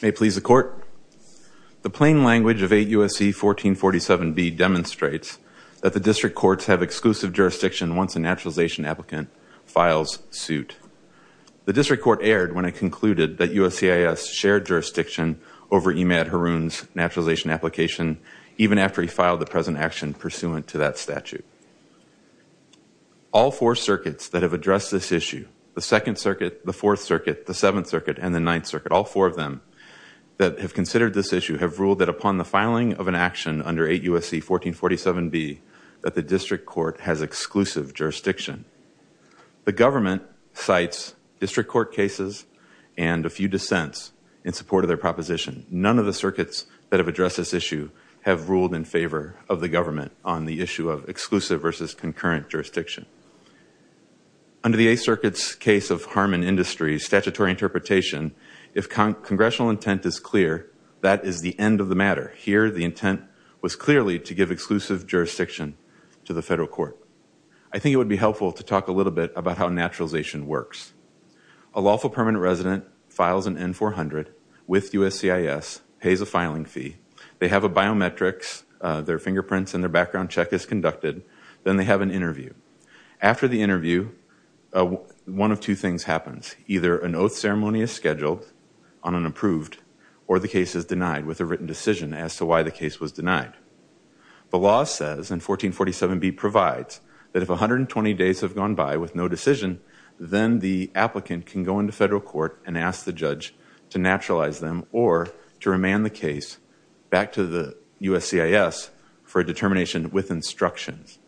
May it please the Court, the plain language of 8 U.S.C. 1447B demonstrates that the District Courts have exclusive jurisdiction once a naturalization applicant files suit. The District Court erred when it concluded that U.S.C.I.S. shared jurisdiction over Emad Haroun's naturalization application even after he filed the present action pursuant to that statute. All four circuits that have addressed this issue, the 2nd Circuit, the 4th Circuit, the 7th Circuit, and the 9th Circuit, all four of them that have considered this issue have ruled that upon the filing of an action under 8 U.S.C. 1447B that the District Court has exclusive jurisdiction. The government cites District Court cases and a few dissents in support of their proposition. None of the circuits that have addressed this issue have ruled in favor of the government on the issue of exclusive versus concurrent jurisdiction. Under the 8th Circuit's case of harm and industry, statutory interpretation, if congressional intent is clear, that is the end of the matter. Here, the intent was clearly to give exclusive jurisdiction to the federal court. I think it would be helpful to talk a little bit about how naturalization works. A lawful permanent resident files an N-400 with U.S.C.I.S., pays a filing fee, they have a biometrics, their fingerprints and their background check is conducted, then they have an interview. After the interview, one of two things happens. Either an oath ceremony is scheduled on an approved or the case is denied with a written decision as to why the case was denied. The law says in 1447B provides that if 120 days have gone by with no decision, then the applicant can go into federal court and ask the judge to naturalize them or to remand the case back to the U.S.C.I.S. for a determination with instructions.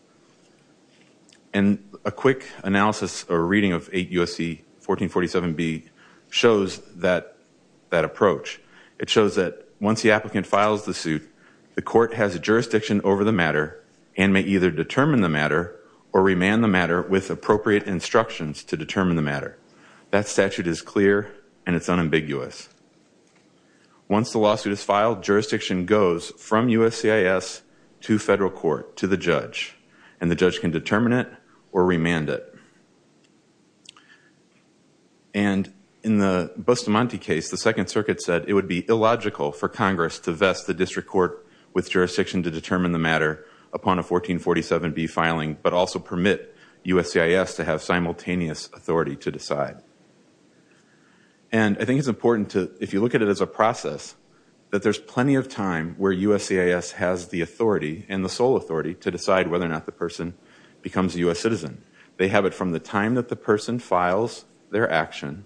And a quick analysis or reading of 8 U.S.C. 1447B shows that approach. It shows that once the applicant files the suit, the court has jurisdiction over the matter and may either determine the matter or remand the matter with appropriate instructions to determine the matter. That statute is clear and it's unambiguous. Once the lawsuit is filed, jurisdiction goes from U.S.C.I.S. to federal court, to the judge, and the judge can determine it or remand it. And in the Bustamante case, the Second Circuit said it would be illogical for Congress to vest the district court with jurisdiction to determine the matter upon a 1447B filing, but also permit U.S.C.I.S. to have simultaneous authority to decide. And I think it's important to, if you look at it as a process, that there's plenty of time where U.S.C.I.S. has the authority and the sole authority to decide whether or not the person becomes a U.S. citizen. They have it from the time that the person files their action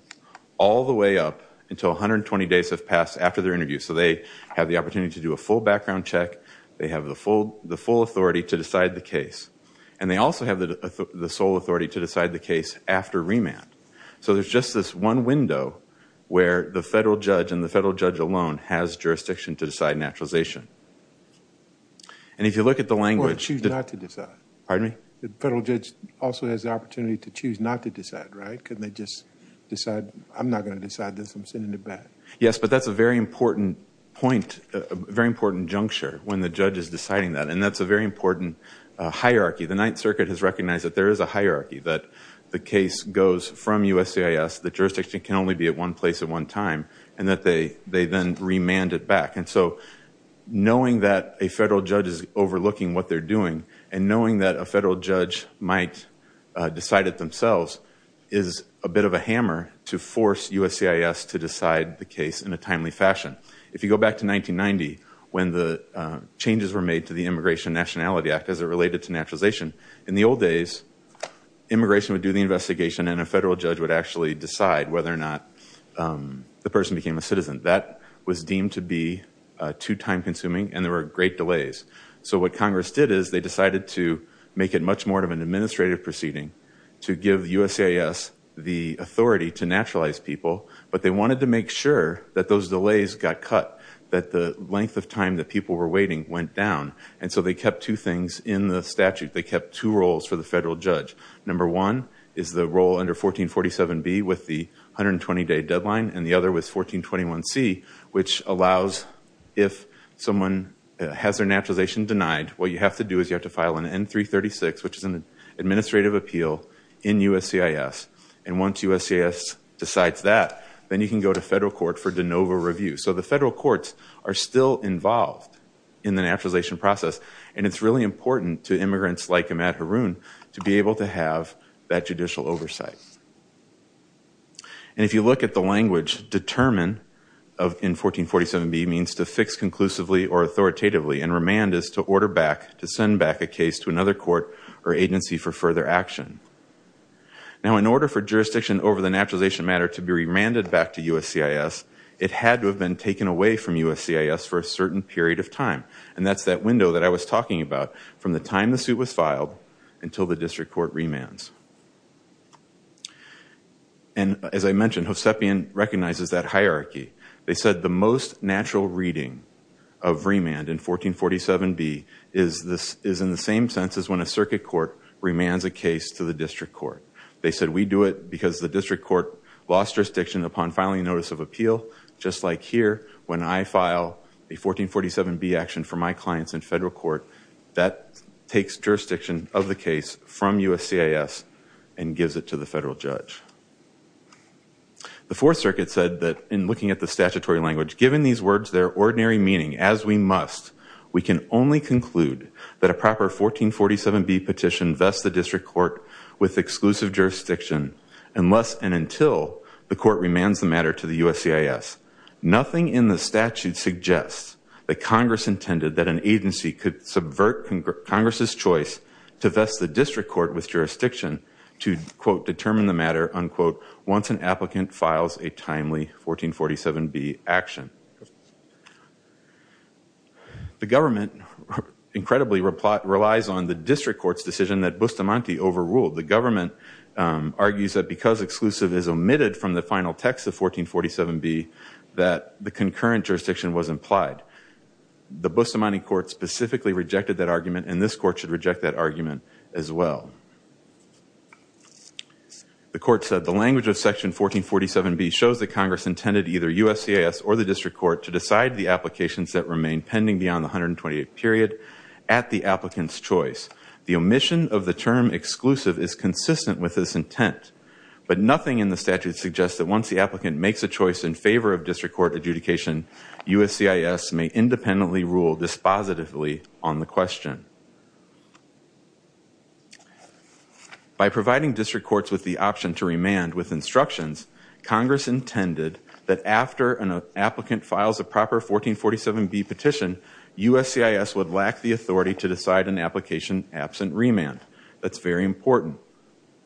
all the way up until 120 days have passed after their interview. So they have the opportunity to do a full background check. They have the full authority to decide the case. And they also have the sole authority to decide the case after remand. So there's just this one window where the federal judge and the federal judge alone has jurisdiction to decide naturalization. And if you look at the language... Or choose not to decide. Pardon me? The federal judge also has the opportunity to choose not to decide, right? Couldn't they just decide, I'm not going to decide this, I'm sending it back. Yes, but that's a very important point, a very important juncture when the judge is deciding that. And that's a very important hierarchy. The Ninth Circuit has recognized that there is a hierarchy, that the case goes from U.S.C.I.S., the jurisdiction can only be at one place at one time, and that they then remand it back. And so, knowing that a federal judge is overlooking what they're doing, and knowing that a federal judge might decide it themselves, is a bit of a hammer to force U.S.C.I.S. to decide the case in a timely fashion. If you go back to 1990, when the changes were made to the Immigration Nationality Act as it related to naturalization, in the old days, immigration would do the investigation and a federal judge would actually decide whether or not the person became a citizen. That was deemed to be too time consuming and there were great delays. So what Congress did is they decided to make it much more of an administrative proceeding to give U.S.C.I.S. the authority to naturalize people, but they wanted to make sure that those delays got cut, that the length of time that people were waiting went down. And so they kept two things in the statute. They kept two roles for the federal judge. Number one is the role under 1447B with the 120-day deadline, and the other was 1421C, which allows if someone has their license, what you have to do is you have to file an N-336, which is an administrative appeal in U.S.C.I.S., and once U.S.C.I.S. decides that, then you can go to federal court for de novo review. So the federal courts are still involved in the naturalization process and it's really important to immigrants like Ahmad Haroun to be able to have that judicial oversight. And if you look at the language, determine in 1447B means to fix conclusively or authoritatively, and remand is to order back, to send back a case to another court or agency for further action. Now in order for jurisdiction over the naturalization matter to be remanded back to U.S.C.I.S., it had to have been taken away from U.S.C.I.S. for a certain period of time, and that's that window that I was talking about from the time the suit was filed until the district court remands. And as I mentioned, Hovsepian recognizes that hierarchy. They said the most natural reading of remand in 1447B is in the same sense as when a circuit court remands a case to the district court. They said we do it because the district court lost jurisdiction upon filing notice of appeal, just like here when I file a 1447B action for my clients in federal court, that takes jurisdiction of the case from U.S.C.I.S. and gives it to the federal judge. The Fourth Circuit said that in looking at the statutory language, given these words, their ordinary meaning, as we must, we can only conclude that a proper 1447B petition vests the district court with exclusive jurisdiction unless and until the court remands the matter to the U.S.C.I.S. Nothing in the statute suggests that Congress intended that an agency could subvert Congress's choice to vest the district court with jurisdiction to, quote, determine the matter, unquote, once an applicant files a timely 1447B action. The government incredibly relies on the district court's decision that Bustamante overruled. The government argues that because exclusive is omitted from the final text of 1447B, that the concurrent jurisdiction was implied. The court said the language of section 1447B shows that Congress intended either U.S.C.I.S. or the district court to decide the applications that remain pending beyond the 128th period at the applicant's choice. The omission of the term exclusive is consistent with this intent, but nothing in the statute suggests that once the applicant makes a choice in By providing district courts with the option to remand with instructions, Congress intended that after an applicant files a proper 1447B petition, U.S.C.I.S. would lack the authority to decide an application absent remand. That's very important.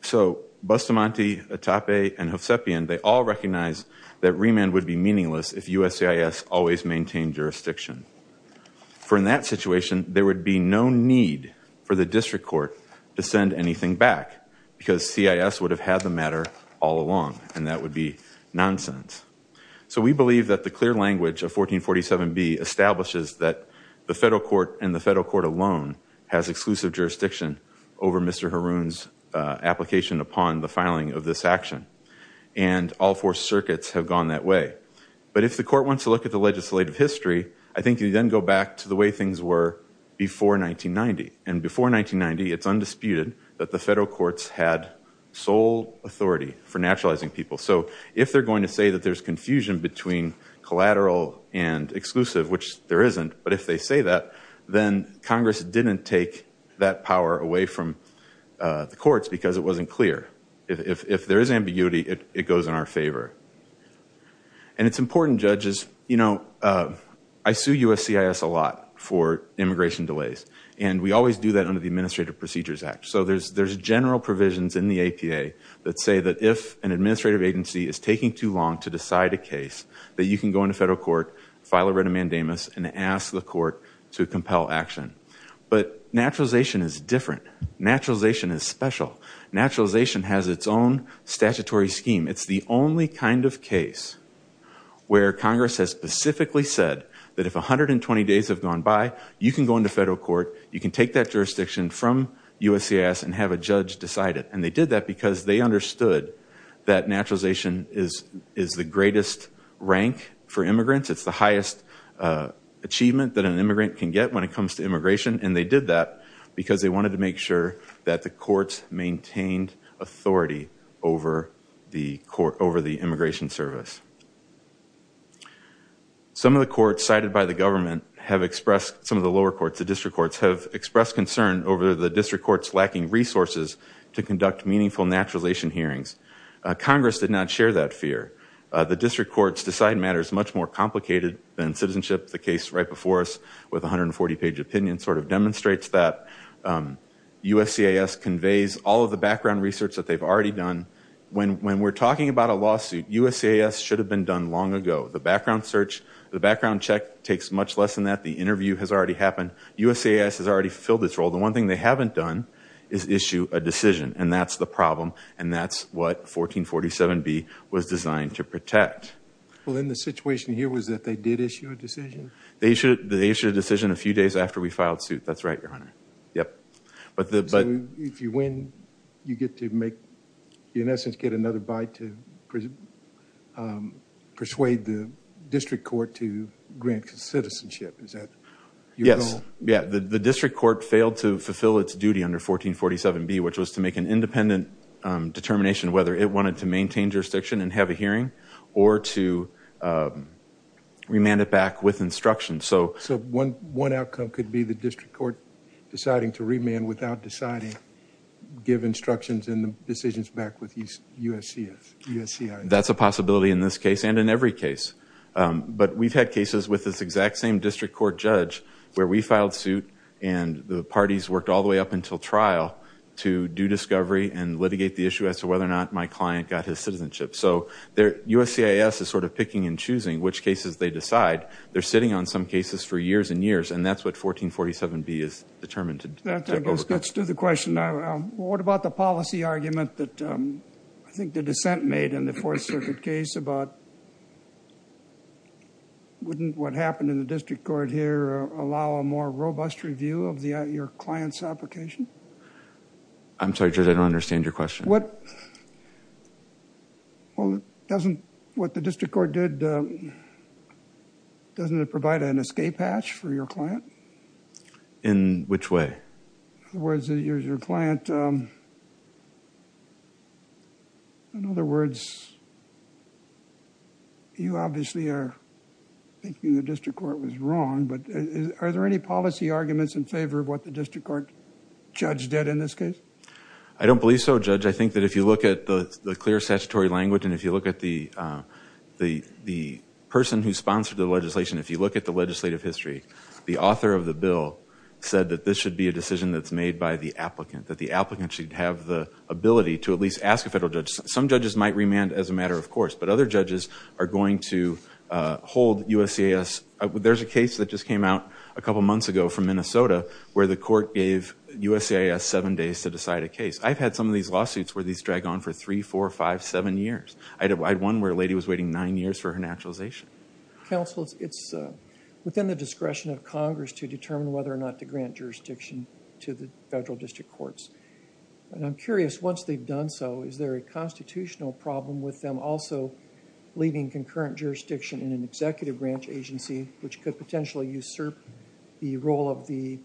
So Bustamante, Atape and Josepian, they all recognize that remand would be meaningless if U.S.C.I.S. always maintained jurisdiction. For in that situation, there would be no need for the district court to send anything back because C.I.S. would have had the matter all along, and that would be nonsense. So we believe that the clear language of 1447B establishes that the federal court and the federal court alone has exclusive jurisdiction over Mr. Haroon's application upon the filing of this action, and all four circuits have gone that way. But if the court wants to look at the legislative history, I think you then go back to the way things were before 1990. And before 1990, it's undisputed that the federal courts had sole authority for naturalizing people. So if they're going to say that there's confusion between collateral and exclusive, which there isn't, but if they say that, then Congress didn't take that power away from the courts because it wasn't clear. If there is ambiguity, it goes in our favor. And it's important, judges. I sue U.S.C.I.S. a lot for immigration delays, and we always do that under the Administrative Procedures Act. So there's general provisions in the APA that say that if an administrative agency is taking too long to decide a case, that you can go into federal court, file a writ of mandamus, and ask the court to compel action. But naturalization is different. Naturalization is special. Naturalization has its own statutory scheme. It's the only kind of case where Congress has specifically said that if 120 days have gone by, you can go into federal court, you can take that jurisdiction from U.S.C.I.S. and have a judge decide it. And they did that because they understood that naturalization is the greatest rank for immigrants. It's the highest achievement that immigrant can get when it comes to immigration. And they did that because they wanted to make sure that the courts maintained authority over the immigration service. Some of the courts cited by the government have expressed, some of the lower courts, the district courts, have expressed concern over the district courts lacking resources to conduct meaningful naturalization hearings. Congress did not share that fear. The district courts decide matters much more complicated than citizenship. The case right before us with 140 page opinion sort of demonstrates that. U.S.C.I.S. conveys all of the background research that they've already done. When we're talking about a lawsuit, U.S.C.I.S. should have been done long ago. The background search, the background check takes much less than that. The interview has already happened. U.S.C.I.S. has already fulfilled its role. The one thing they haven't done is issue a decision. And that's the problem. And that's what 1447B was designed to protect. Well, then the situation here was that they did issue a decision? They issued a decision a few days after we filed suit. That's right, Your Honor. So if you win, you get to make, in essence, get another bite to persuade the district court to grant citizenship. Is that your goal? Yeah, the district court failed to fulfill its duty under 1447B, which was to make an independent determination whether it wanted to maintain jurisdiction and have a hearing or to remand it back with instructions. So one outcome could be the district court deciding to remand without deciding, give instructions and the decisions back with U.S.C.I.S.? That's a possibility in this case and in every case. But we've had cases with this exact same judge where we filed suit and the parties worked all the way up until trial to do discovery and litigate the issue as to whether or not my client got his citizenship. So U.S.C.I.S. is sort of picking and choosing which cases they decide. They're sitting on some cases for years and years, and that's what 1447B is determined to do. That gets to the question, what about the policy argument that I think the dissent made in the Fourth Circuit case about wouldn't what happened in the district court here allow a more robust review of your client's application? I'm sorry, Judge, I don't understand your question. Well, doesn't what the district court did, doesn't it provide an escape hatch for your client? In which way? In other words, you obviously are thinking the district court was wrong, but are there any policy arguments in favor of what the district court judge did in this case? I don't believe so, Judge. I think that if you look at the clear statutory language and if you look at the person who sponsored the legislation, if you look at the legislative history, the author of the bill said that this should be a decision that's made by the applicant, that the applicant should have the ability to at least ask a federal judge. Some judges might remand as a matter of course, but other judges are going to hold USCIS. There's a case that just came out a couple months ago from Minnesota where the court gave USCIS seven days to decide a case. I've had some of these lawsuits where these drag on for three, four, five, seven years. I had one where a lady was waiting nine years for her naturalization. Counsel, it's within the discretion of Congress to determine whether or not to grant jurisdiction to the federal district courts. I'm curious, once they've done so, is there a constitutional problem with them also leaving concurrent jurisdiction in an executive branch agency, which could potentially usurp the role of the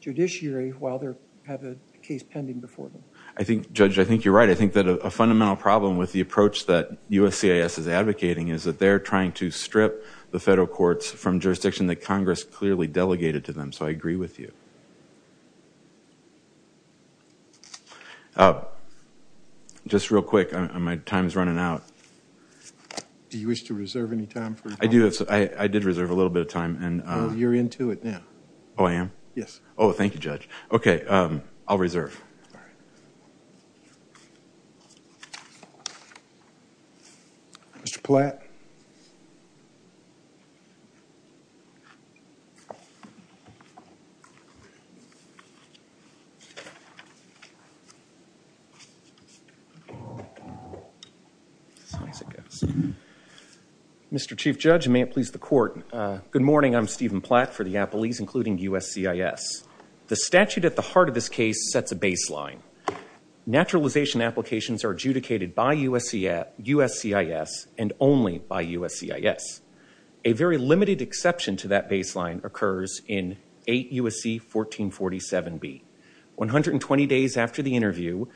judiciary while they have a case pending before them? I think, Judge, I think you're right. I think that a fundamental problem with the approach that USCIS is advocating is that they're trying to strip the federal courts from jurisdiction that they have. Just real quick, my time is running out. Do you wish to reserve any time? I do. I did reserve a little bit of time. You're into it now. Oh, I am? Yes. Oh, thank you, Judge. Okay, I'll reserve. All right. Mr. Platt. Mr. Chief Judge, and may it please the Court, good morning. I'm Stephen Platt for the Appellees, including USCIS. The statute at the heart of this case sets a baseline. Naturalization applications are adjudicated by USCIS and only by USCIS. A very limited exception to that baseline occurs in 8 U.S.C. 1447b. 120 days after the interview,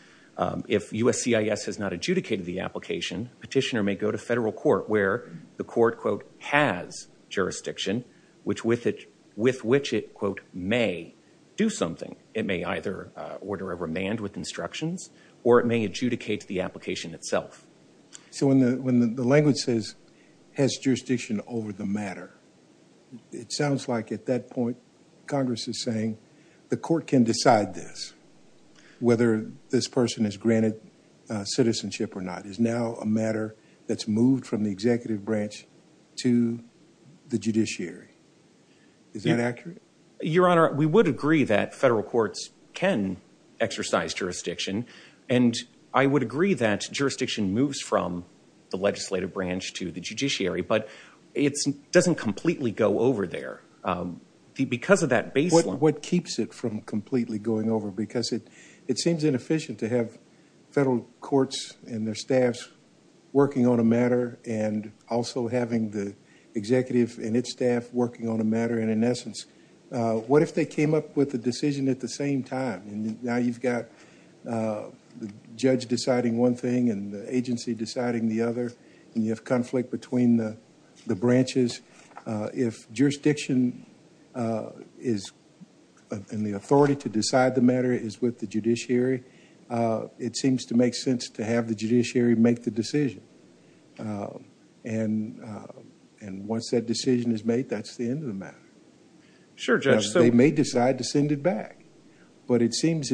if USCIS has not adjudicated the application, petitioner may go to federal court where the court, quote, has jurisdiction, which with it, with which it, quote, may do something. It may either order a remand with instructions or it may adjudicate the application itself. So when the language says has jurisdiction over the matter, it sounds like at that point Congress is saying the court can decide this. Whether this person is granted citizenship or not is now a matter that's moved from the executive branch to the judiciary. Is that accurate? Your Honor, we would agree that federal courts can exercise jurisdiction and I would agree that jurisdiction moves from the legislative branch to the judiciary, but it doesn't completely go over there because of that baseline. What keeps it from completely going over? Because it seems inefficient to have federal courts and also having the executive and its staff working on a matter and in essence, what if they came up with a decision at the same time? Now you've got the judge deciding one thing and the agency deciding the other and you have conflict between the branches. If jurisdiction is in the authority to decide the matter is with the judiciary, it seems to make sense to have the judiciary make the decision and once that decision is made, that's the end of the matter. They may decide to send it back, but it seems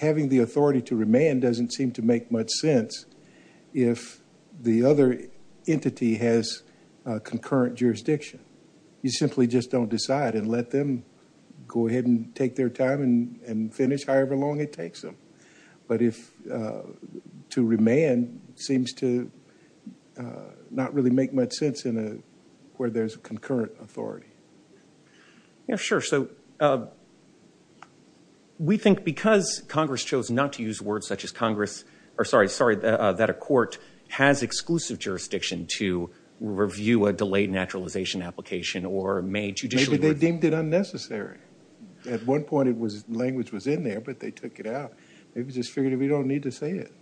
having the authority to remand doesn't seem to make much sense if the other entity has concurrent jurisdiction. You simply just don't decide and let them go ahead and take their time and finish however long it takes them, but to remand seems to not really make much sense where there's a concurrent authority. Yeah, sure. So we think because Congress chose not to use words such as Congress, or sorry, that a court has exclusive jurisdiction to review a delayed naturalization application or they deemed it unnecessary. At one point it was language was in there, but they took it out. They just figured we don't need to say it.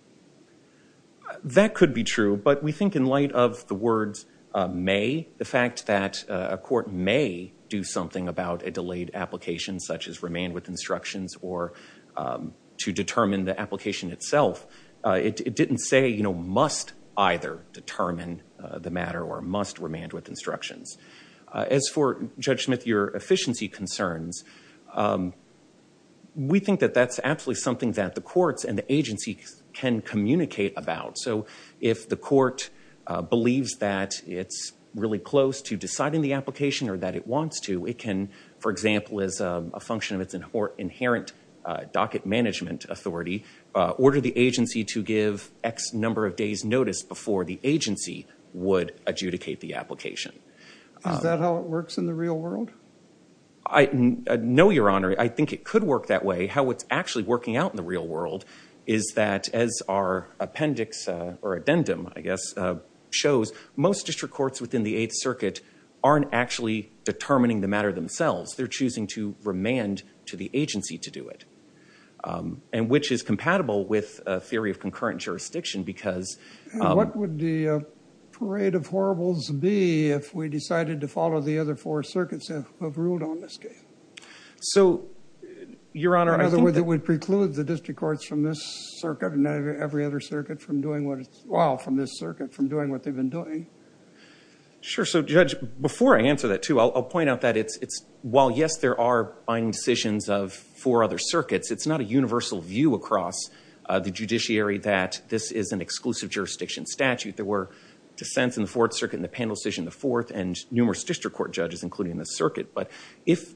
That could be true, but we think in light of the words may, the fact that a court may do something about a delayed application such as remand with instructions or to determine the application itself, it didn't say, you know, must either determine the matter or must remand with instructions. As for Judge Smith, your efficiency concerns, we think that that's absolutely something that the courts and the agency can communicate about. So if the court believes that it's really close to deciding the application or that it wants to, it can, for example, as a function of its inherent docket management authority, order the agency to give X number of days notice before the agency would adjudicate the application. Is that how it works in the real world? I know, Your Honor, I think it could work that way. How it's actually working out in the real world is that as our appendix or addendum, I guess, shows most district courts within the Eighth Circuit aren't actually determining the matter themselves. They're choosing to remand to the district court, which is compatible with a theory of concurrent jurisdiction because... What would the parade of horribles be if we decided to follow the other four circuits that have ruled on this case? So, Your Honor, I think that... In other words, it would preclude the district courts from this circuit and every other circuit from doing what, well, from this circuit, from doing what they've been doing. Sure. So, Judge, before I answer that, too, I'll point out that it's, while, yes, there are decisions of four other circuits, it's not a universal view across the judiciary that this is an exclusive jurisdiction statute. There were dissents in the Fourth Circuit and the panel decision in the Fourth and numerous district court judges, including the circuit. But if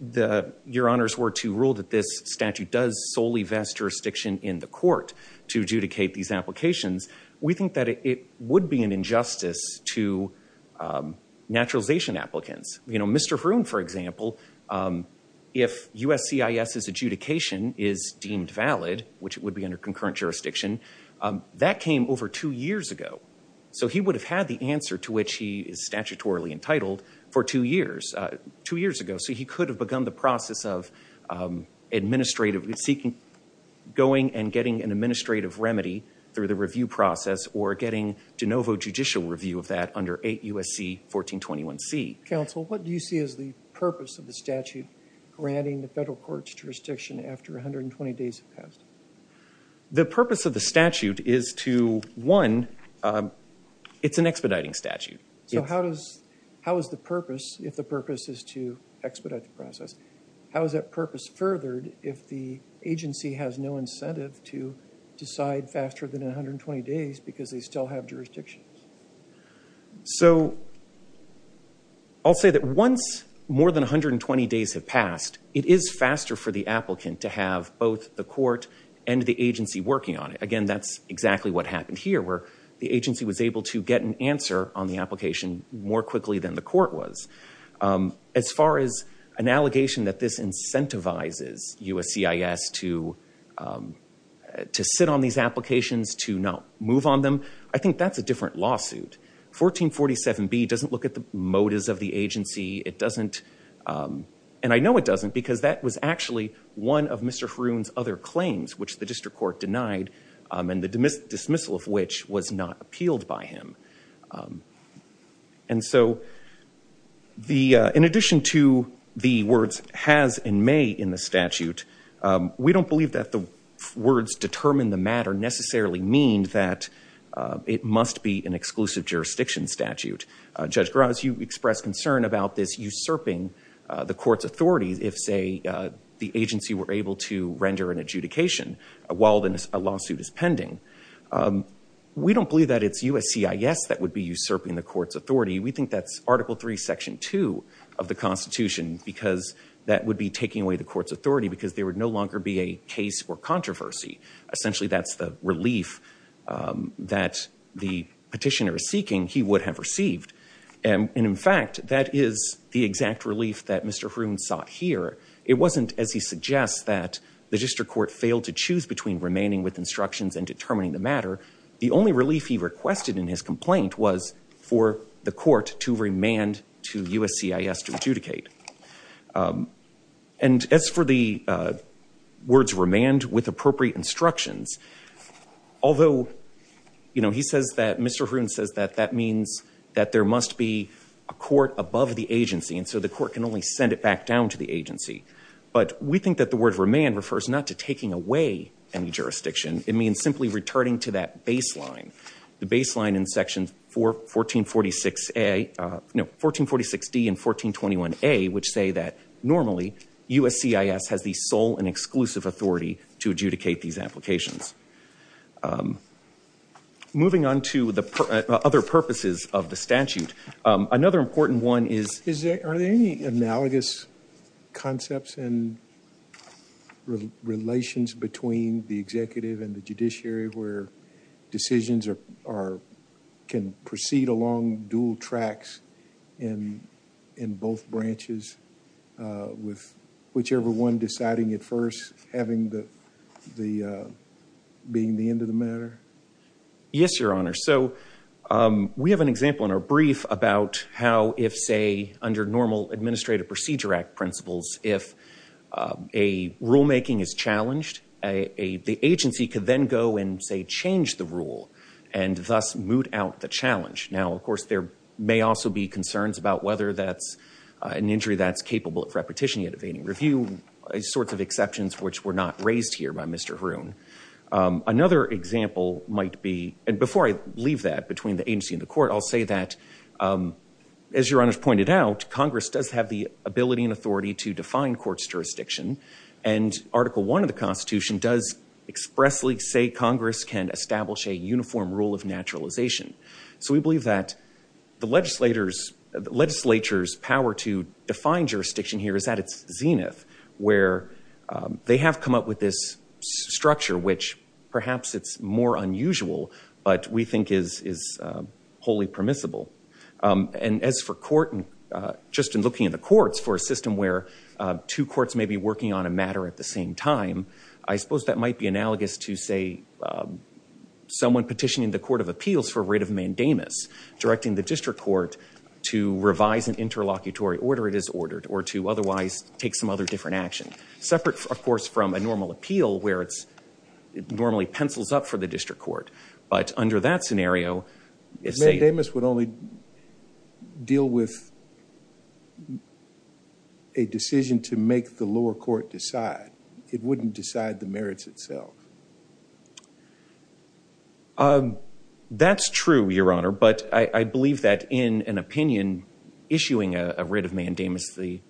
Your Honors were to rule that this statute does solely vest jurisdiction in the court to adjudicate these applications, we think that it would be an injustice to naturalization applicants. You know, Mr. Hroon, for example, if USCIS's adjudication is deemed valid, which would be under concurrent jurisdiction, that came over two years ago. So, he would have had the answer to which he is statutorily entitled for two years, two years ago. So, he could have begun the process of administrative, seeking, going and getting an administrative counsel. What do you see as the purpose of the statute granting the federal court's jurisdiction after 120 days have passed? The purpose of the statute is to, one, it's an expediting statute. So, how does, how is the purpose, if the purpose is to expedite the process, how is that purpose furthered if the agency has no incentive to decide faster than 120 days because they still have jurisdictions? So, I'll say that once more than 120 days have passed, it is faster for the applicant to have both the court and the agency working on it. Again, that's exactly what happened here, where the agency was able to get an answer on the application more quickly than the court was. As far as an allegation that this incentivizes USCIS to sit on these applications, to not move on them, I think that's a different lawsuit. 1447B doesn't look at the motives of the agency. It doesn't, and I know it doesn't, because that was actually one of Mr. Haroon's other claims, which the district court denied, and the dismissal of which was not appealed by him. And so, the, in addition to the words has and may in the statute, we don't believe that the words determine the matter necessarily mean that it must be an exclusive jurisdiction statute. Judge Graves, you expressed concern about this usurping the court's authority if, say, the agency were able to render an adjudication while a lawsuit is pending. We don't believe that it's USCIS that would be usurping the court's authority. We think that's Article III, Section 2 of the Constitution because that would be taking away the court's authority because there would no longer be a controversy. Essentially, that's the relief that the petitioner is seeking he would have received, and in fact, that is the exact relief that Mr. Haroon sought here. It wasn't, as he suggests, that the district court failed to choose between remanding with instructions and determining the matter. The only relief he requested in his complaint was for the court to remand to USCIS to adjudicate. And as for the words remand with appropriate instructions, although, you know, he says that Mr. Haroon says that that means that there must be a court above the agency and so the court can only send it back down to the agency, but we think that the word remand refers not to taking away any jurisdiction. It means simply returning to that baseline. The baseline in Section 1446A, no, 1446D and 1421A, which say that normally USCIS has the sole and exclusive authority to adjudicate these applications. Moving on to the other purposes of the statute, another important one is... Are there any analogous concepts and relations between the executive and the judiciary where decisions can proceed along dual tracks in both branches with whichever one deciding at first having the being the end of the matter? Yes, Your Honor. So we have an example in our brief about how if, say, under normal Administrative Procedure Act principles, if a rulemaking is challenged, the agency could then go and, say, change the rule and thus moot out the challenge. Now, of course, there may also be concerns about whether that's an injury that's capable of repetition yet evading review, sorts of exceptions which were not raised here by Mr. Haroon. Another example might be, and before I leave that between the agency and the court, I'll say that, as Your Honor's pointed out, Congress does have the ability and authority to define court's jurisdiction, and Article I of the Constitution does expressly say Congress can establish a uniform rule of naturalization. So we believe that the legislature's power to define jurisdiction here is at its zenith, where they have come up with this structure which perhaps it's more unusual, but we think is wholly permissible. And as for court, just in looking at the courts for a system where two courts may be working on a matter at the same time, I suppose that might be analogous to, say, someone petitioning the Court of Appeals for writ of mandamus directing the district court to revise an interlocutory order it is ordered or to otherwise take some other different action. Separate, of course, from a normal appeal where it's normally pencils up for the district court, but under that scenario, it's safe. Mandamus would only deal with a decision to make the lower court decide. It wouldn't decide the merits itself. That's true, Your Honor, but I believe that in an opinion issuing a writ of mandamus, the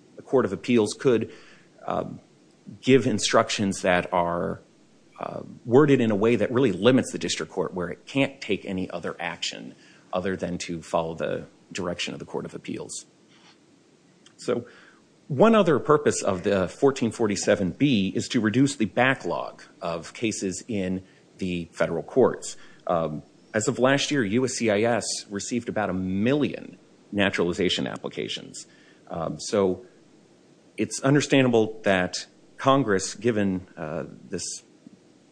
worded in a way that really limits the district court where it can't take any other action other than to follow the direction of the Court of Appeals. So one other purpose of the 1447B is to reduce the backlog of cases in the federal courts. As of last year, USCIS received about a million naturalization applications. So it's understandable that Congress, given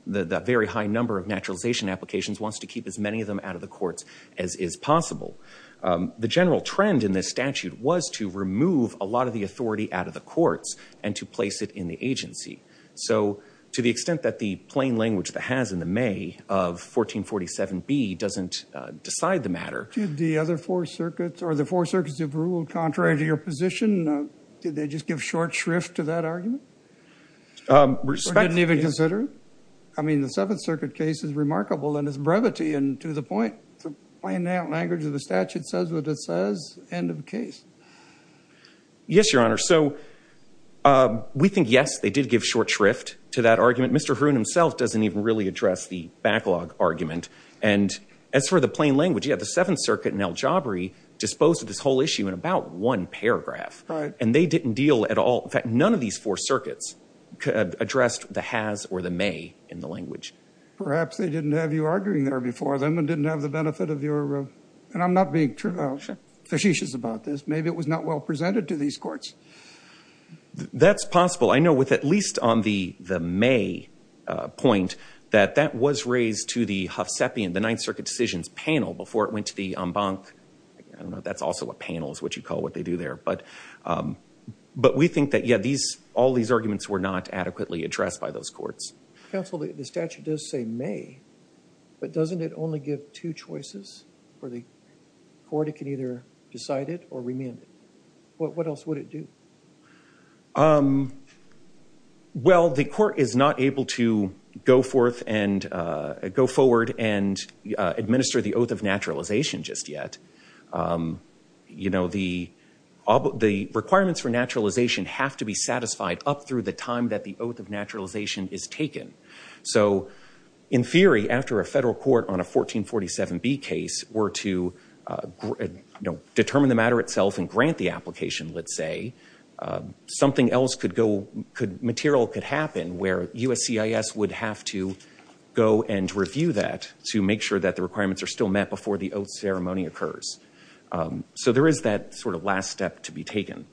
the very high number of naturalization applications, wants to keep as many of them out of the courts as is possible. The general trend in this statute was to remove a lot of the authority out of the courts and to place it in the agency. So to the extent that the plain language that has in the May of 1447B doesn't decide the matter. Did the other four circuits, or the four circuits that have ruled contrary to your position, did they just give short shrift to that argument? Or didn't even consider it? I mean, the Seventh Circuit case is remarkable in its brevity and to the point. The plain language of the statute says what it says. End of case. Yes, Your Honor. So we think, yes, they did give short shrift to that argument. Mr. Hroon himself doesn't even really address the backlog argument. And as for the plain language, the Seventh Circuit and El Jabri disposed of this whole issue in about one paragraph. And they didn't deal at all. In fact, none of these four circuits addressed the has or the may in the language. Perhaps they didn't have you arguing there before them and didn't have the benefit of your and I'm not being facetious about this. Maybe it was not well presented to these courts. That's possible. I know with at least on the may point that that was raised to the Huff panel before it went to the Embank. That's also a panel is what you call what they do there. But we think that, yes, all these arguments were not adequately addressed by those courts. Counsel, the statute does say may, but doesn't it only give two choices for the court? It can either decide it or remand it. What else would it do? Um, well, the court is not able to go forth and go forward and administer the oath of naturalization just yet. You know, the requirements for naturalization have to be satisfied up through the time that the oath of naturalization is taken. So in theory, after a federal court on a 1447B case were to determine the matter itself and grant the something else could go could material could happen where USCIS would have to go and review that to make sure that the requirements are still met before the oath ceremony occurs. So there is that sort of last step to be taken.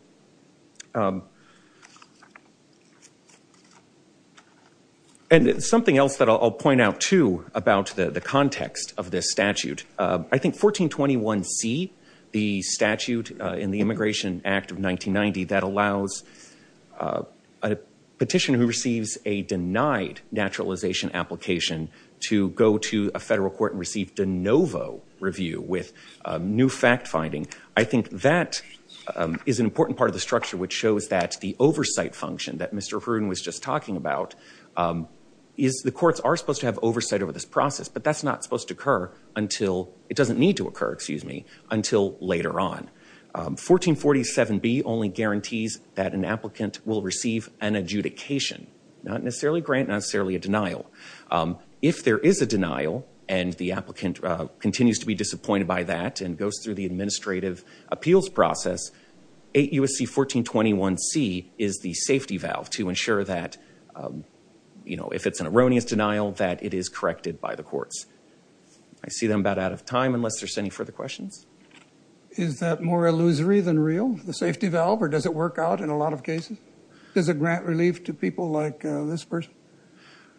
And something else that I'll point out too about the context of this statute. I think 1421C, the statute in the Immigration Act of 1990 that allows a petitioner who receives a denied naturalization application to go to a federal court and receive de novo review with new fact finding. I think that is an important part of the structure, which shows that the oversight function that Mr. Hroon was just talking about is the courts are supposed to have oversight over this process, but that's not supposed to occur until it doesn't need to occur, excuse me, until later on. 1447B only guarantees that an applicant will receive an adjudication, not necessarily grant, not necessarily a denial. If there is a denial and the applicant continues to be disappointed by that and goes through the administrative appeals process, 8 U.S.C. 1421C is the safety valve to ensure that, you know, if it's an erroneous denial that it is corrected by the courts. I see that I'm about out of time unless there's any further questions. Is that more illusory than real, the safety valve, or does it work out in a lot of cases? Does it grant relief to people like this person?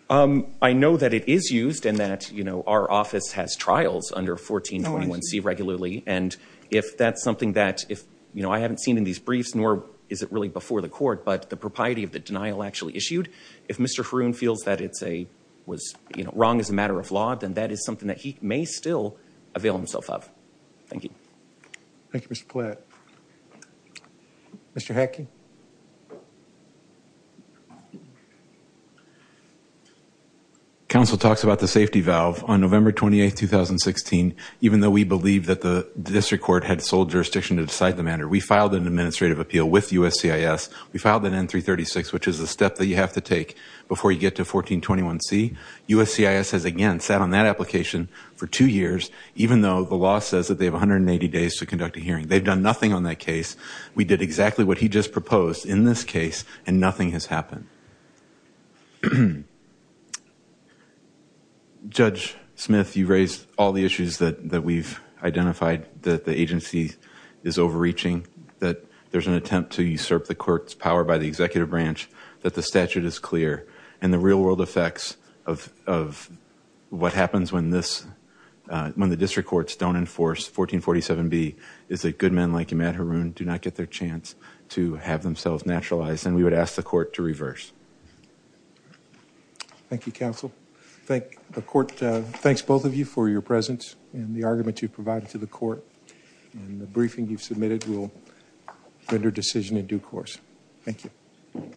I know that it is used and that, you know, our office has trials under 1421C regularly, and if that's something that if, you know, I haven't seen in these briefs, nor is it really before the court, but the propriety of the denial actually issued, if Mr. Hroon feels that it's a, was, you know, wrong as a matter of law, then that is something that he may still avail himself of. Thank you. Thank you, Mr. Platt. Mr. Hackey. Counsel talks about the safety valve on November 28, 2016, even though we believe that the district court had sold jurisdiction to decide the matter. We filed an administrative appeal with U.S.C.I.S. We filed an N-336, which is a step that you have to take before you get to 1421C. U.S.C.I.S. has, again, sat on that application for two years, even though the law says that they have 180 days to conduct a hearing. They've done nothing on that case. We did exactly what he just proposed in this case, and nothing has happened. Judge Smith, you raised all the issues that we've identified, that the agency is overreaching, that there's an attempt to usurp the court's executive branch, that the statute is clear, and the real-world effects of what happens when the district courts don't enforce 1447B is that good men like Ahmad Haroun do not get their chance to have themselves naturalized, and we would ask the court to reverse. Thank you, counsel. The court thanks both of you for your presence and the argument you've provided to the court, and the briefing you've submitted will render decision in due course. Thank you.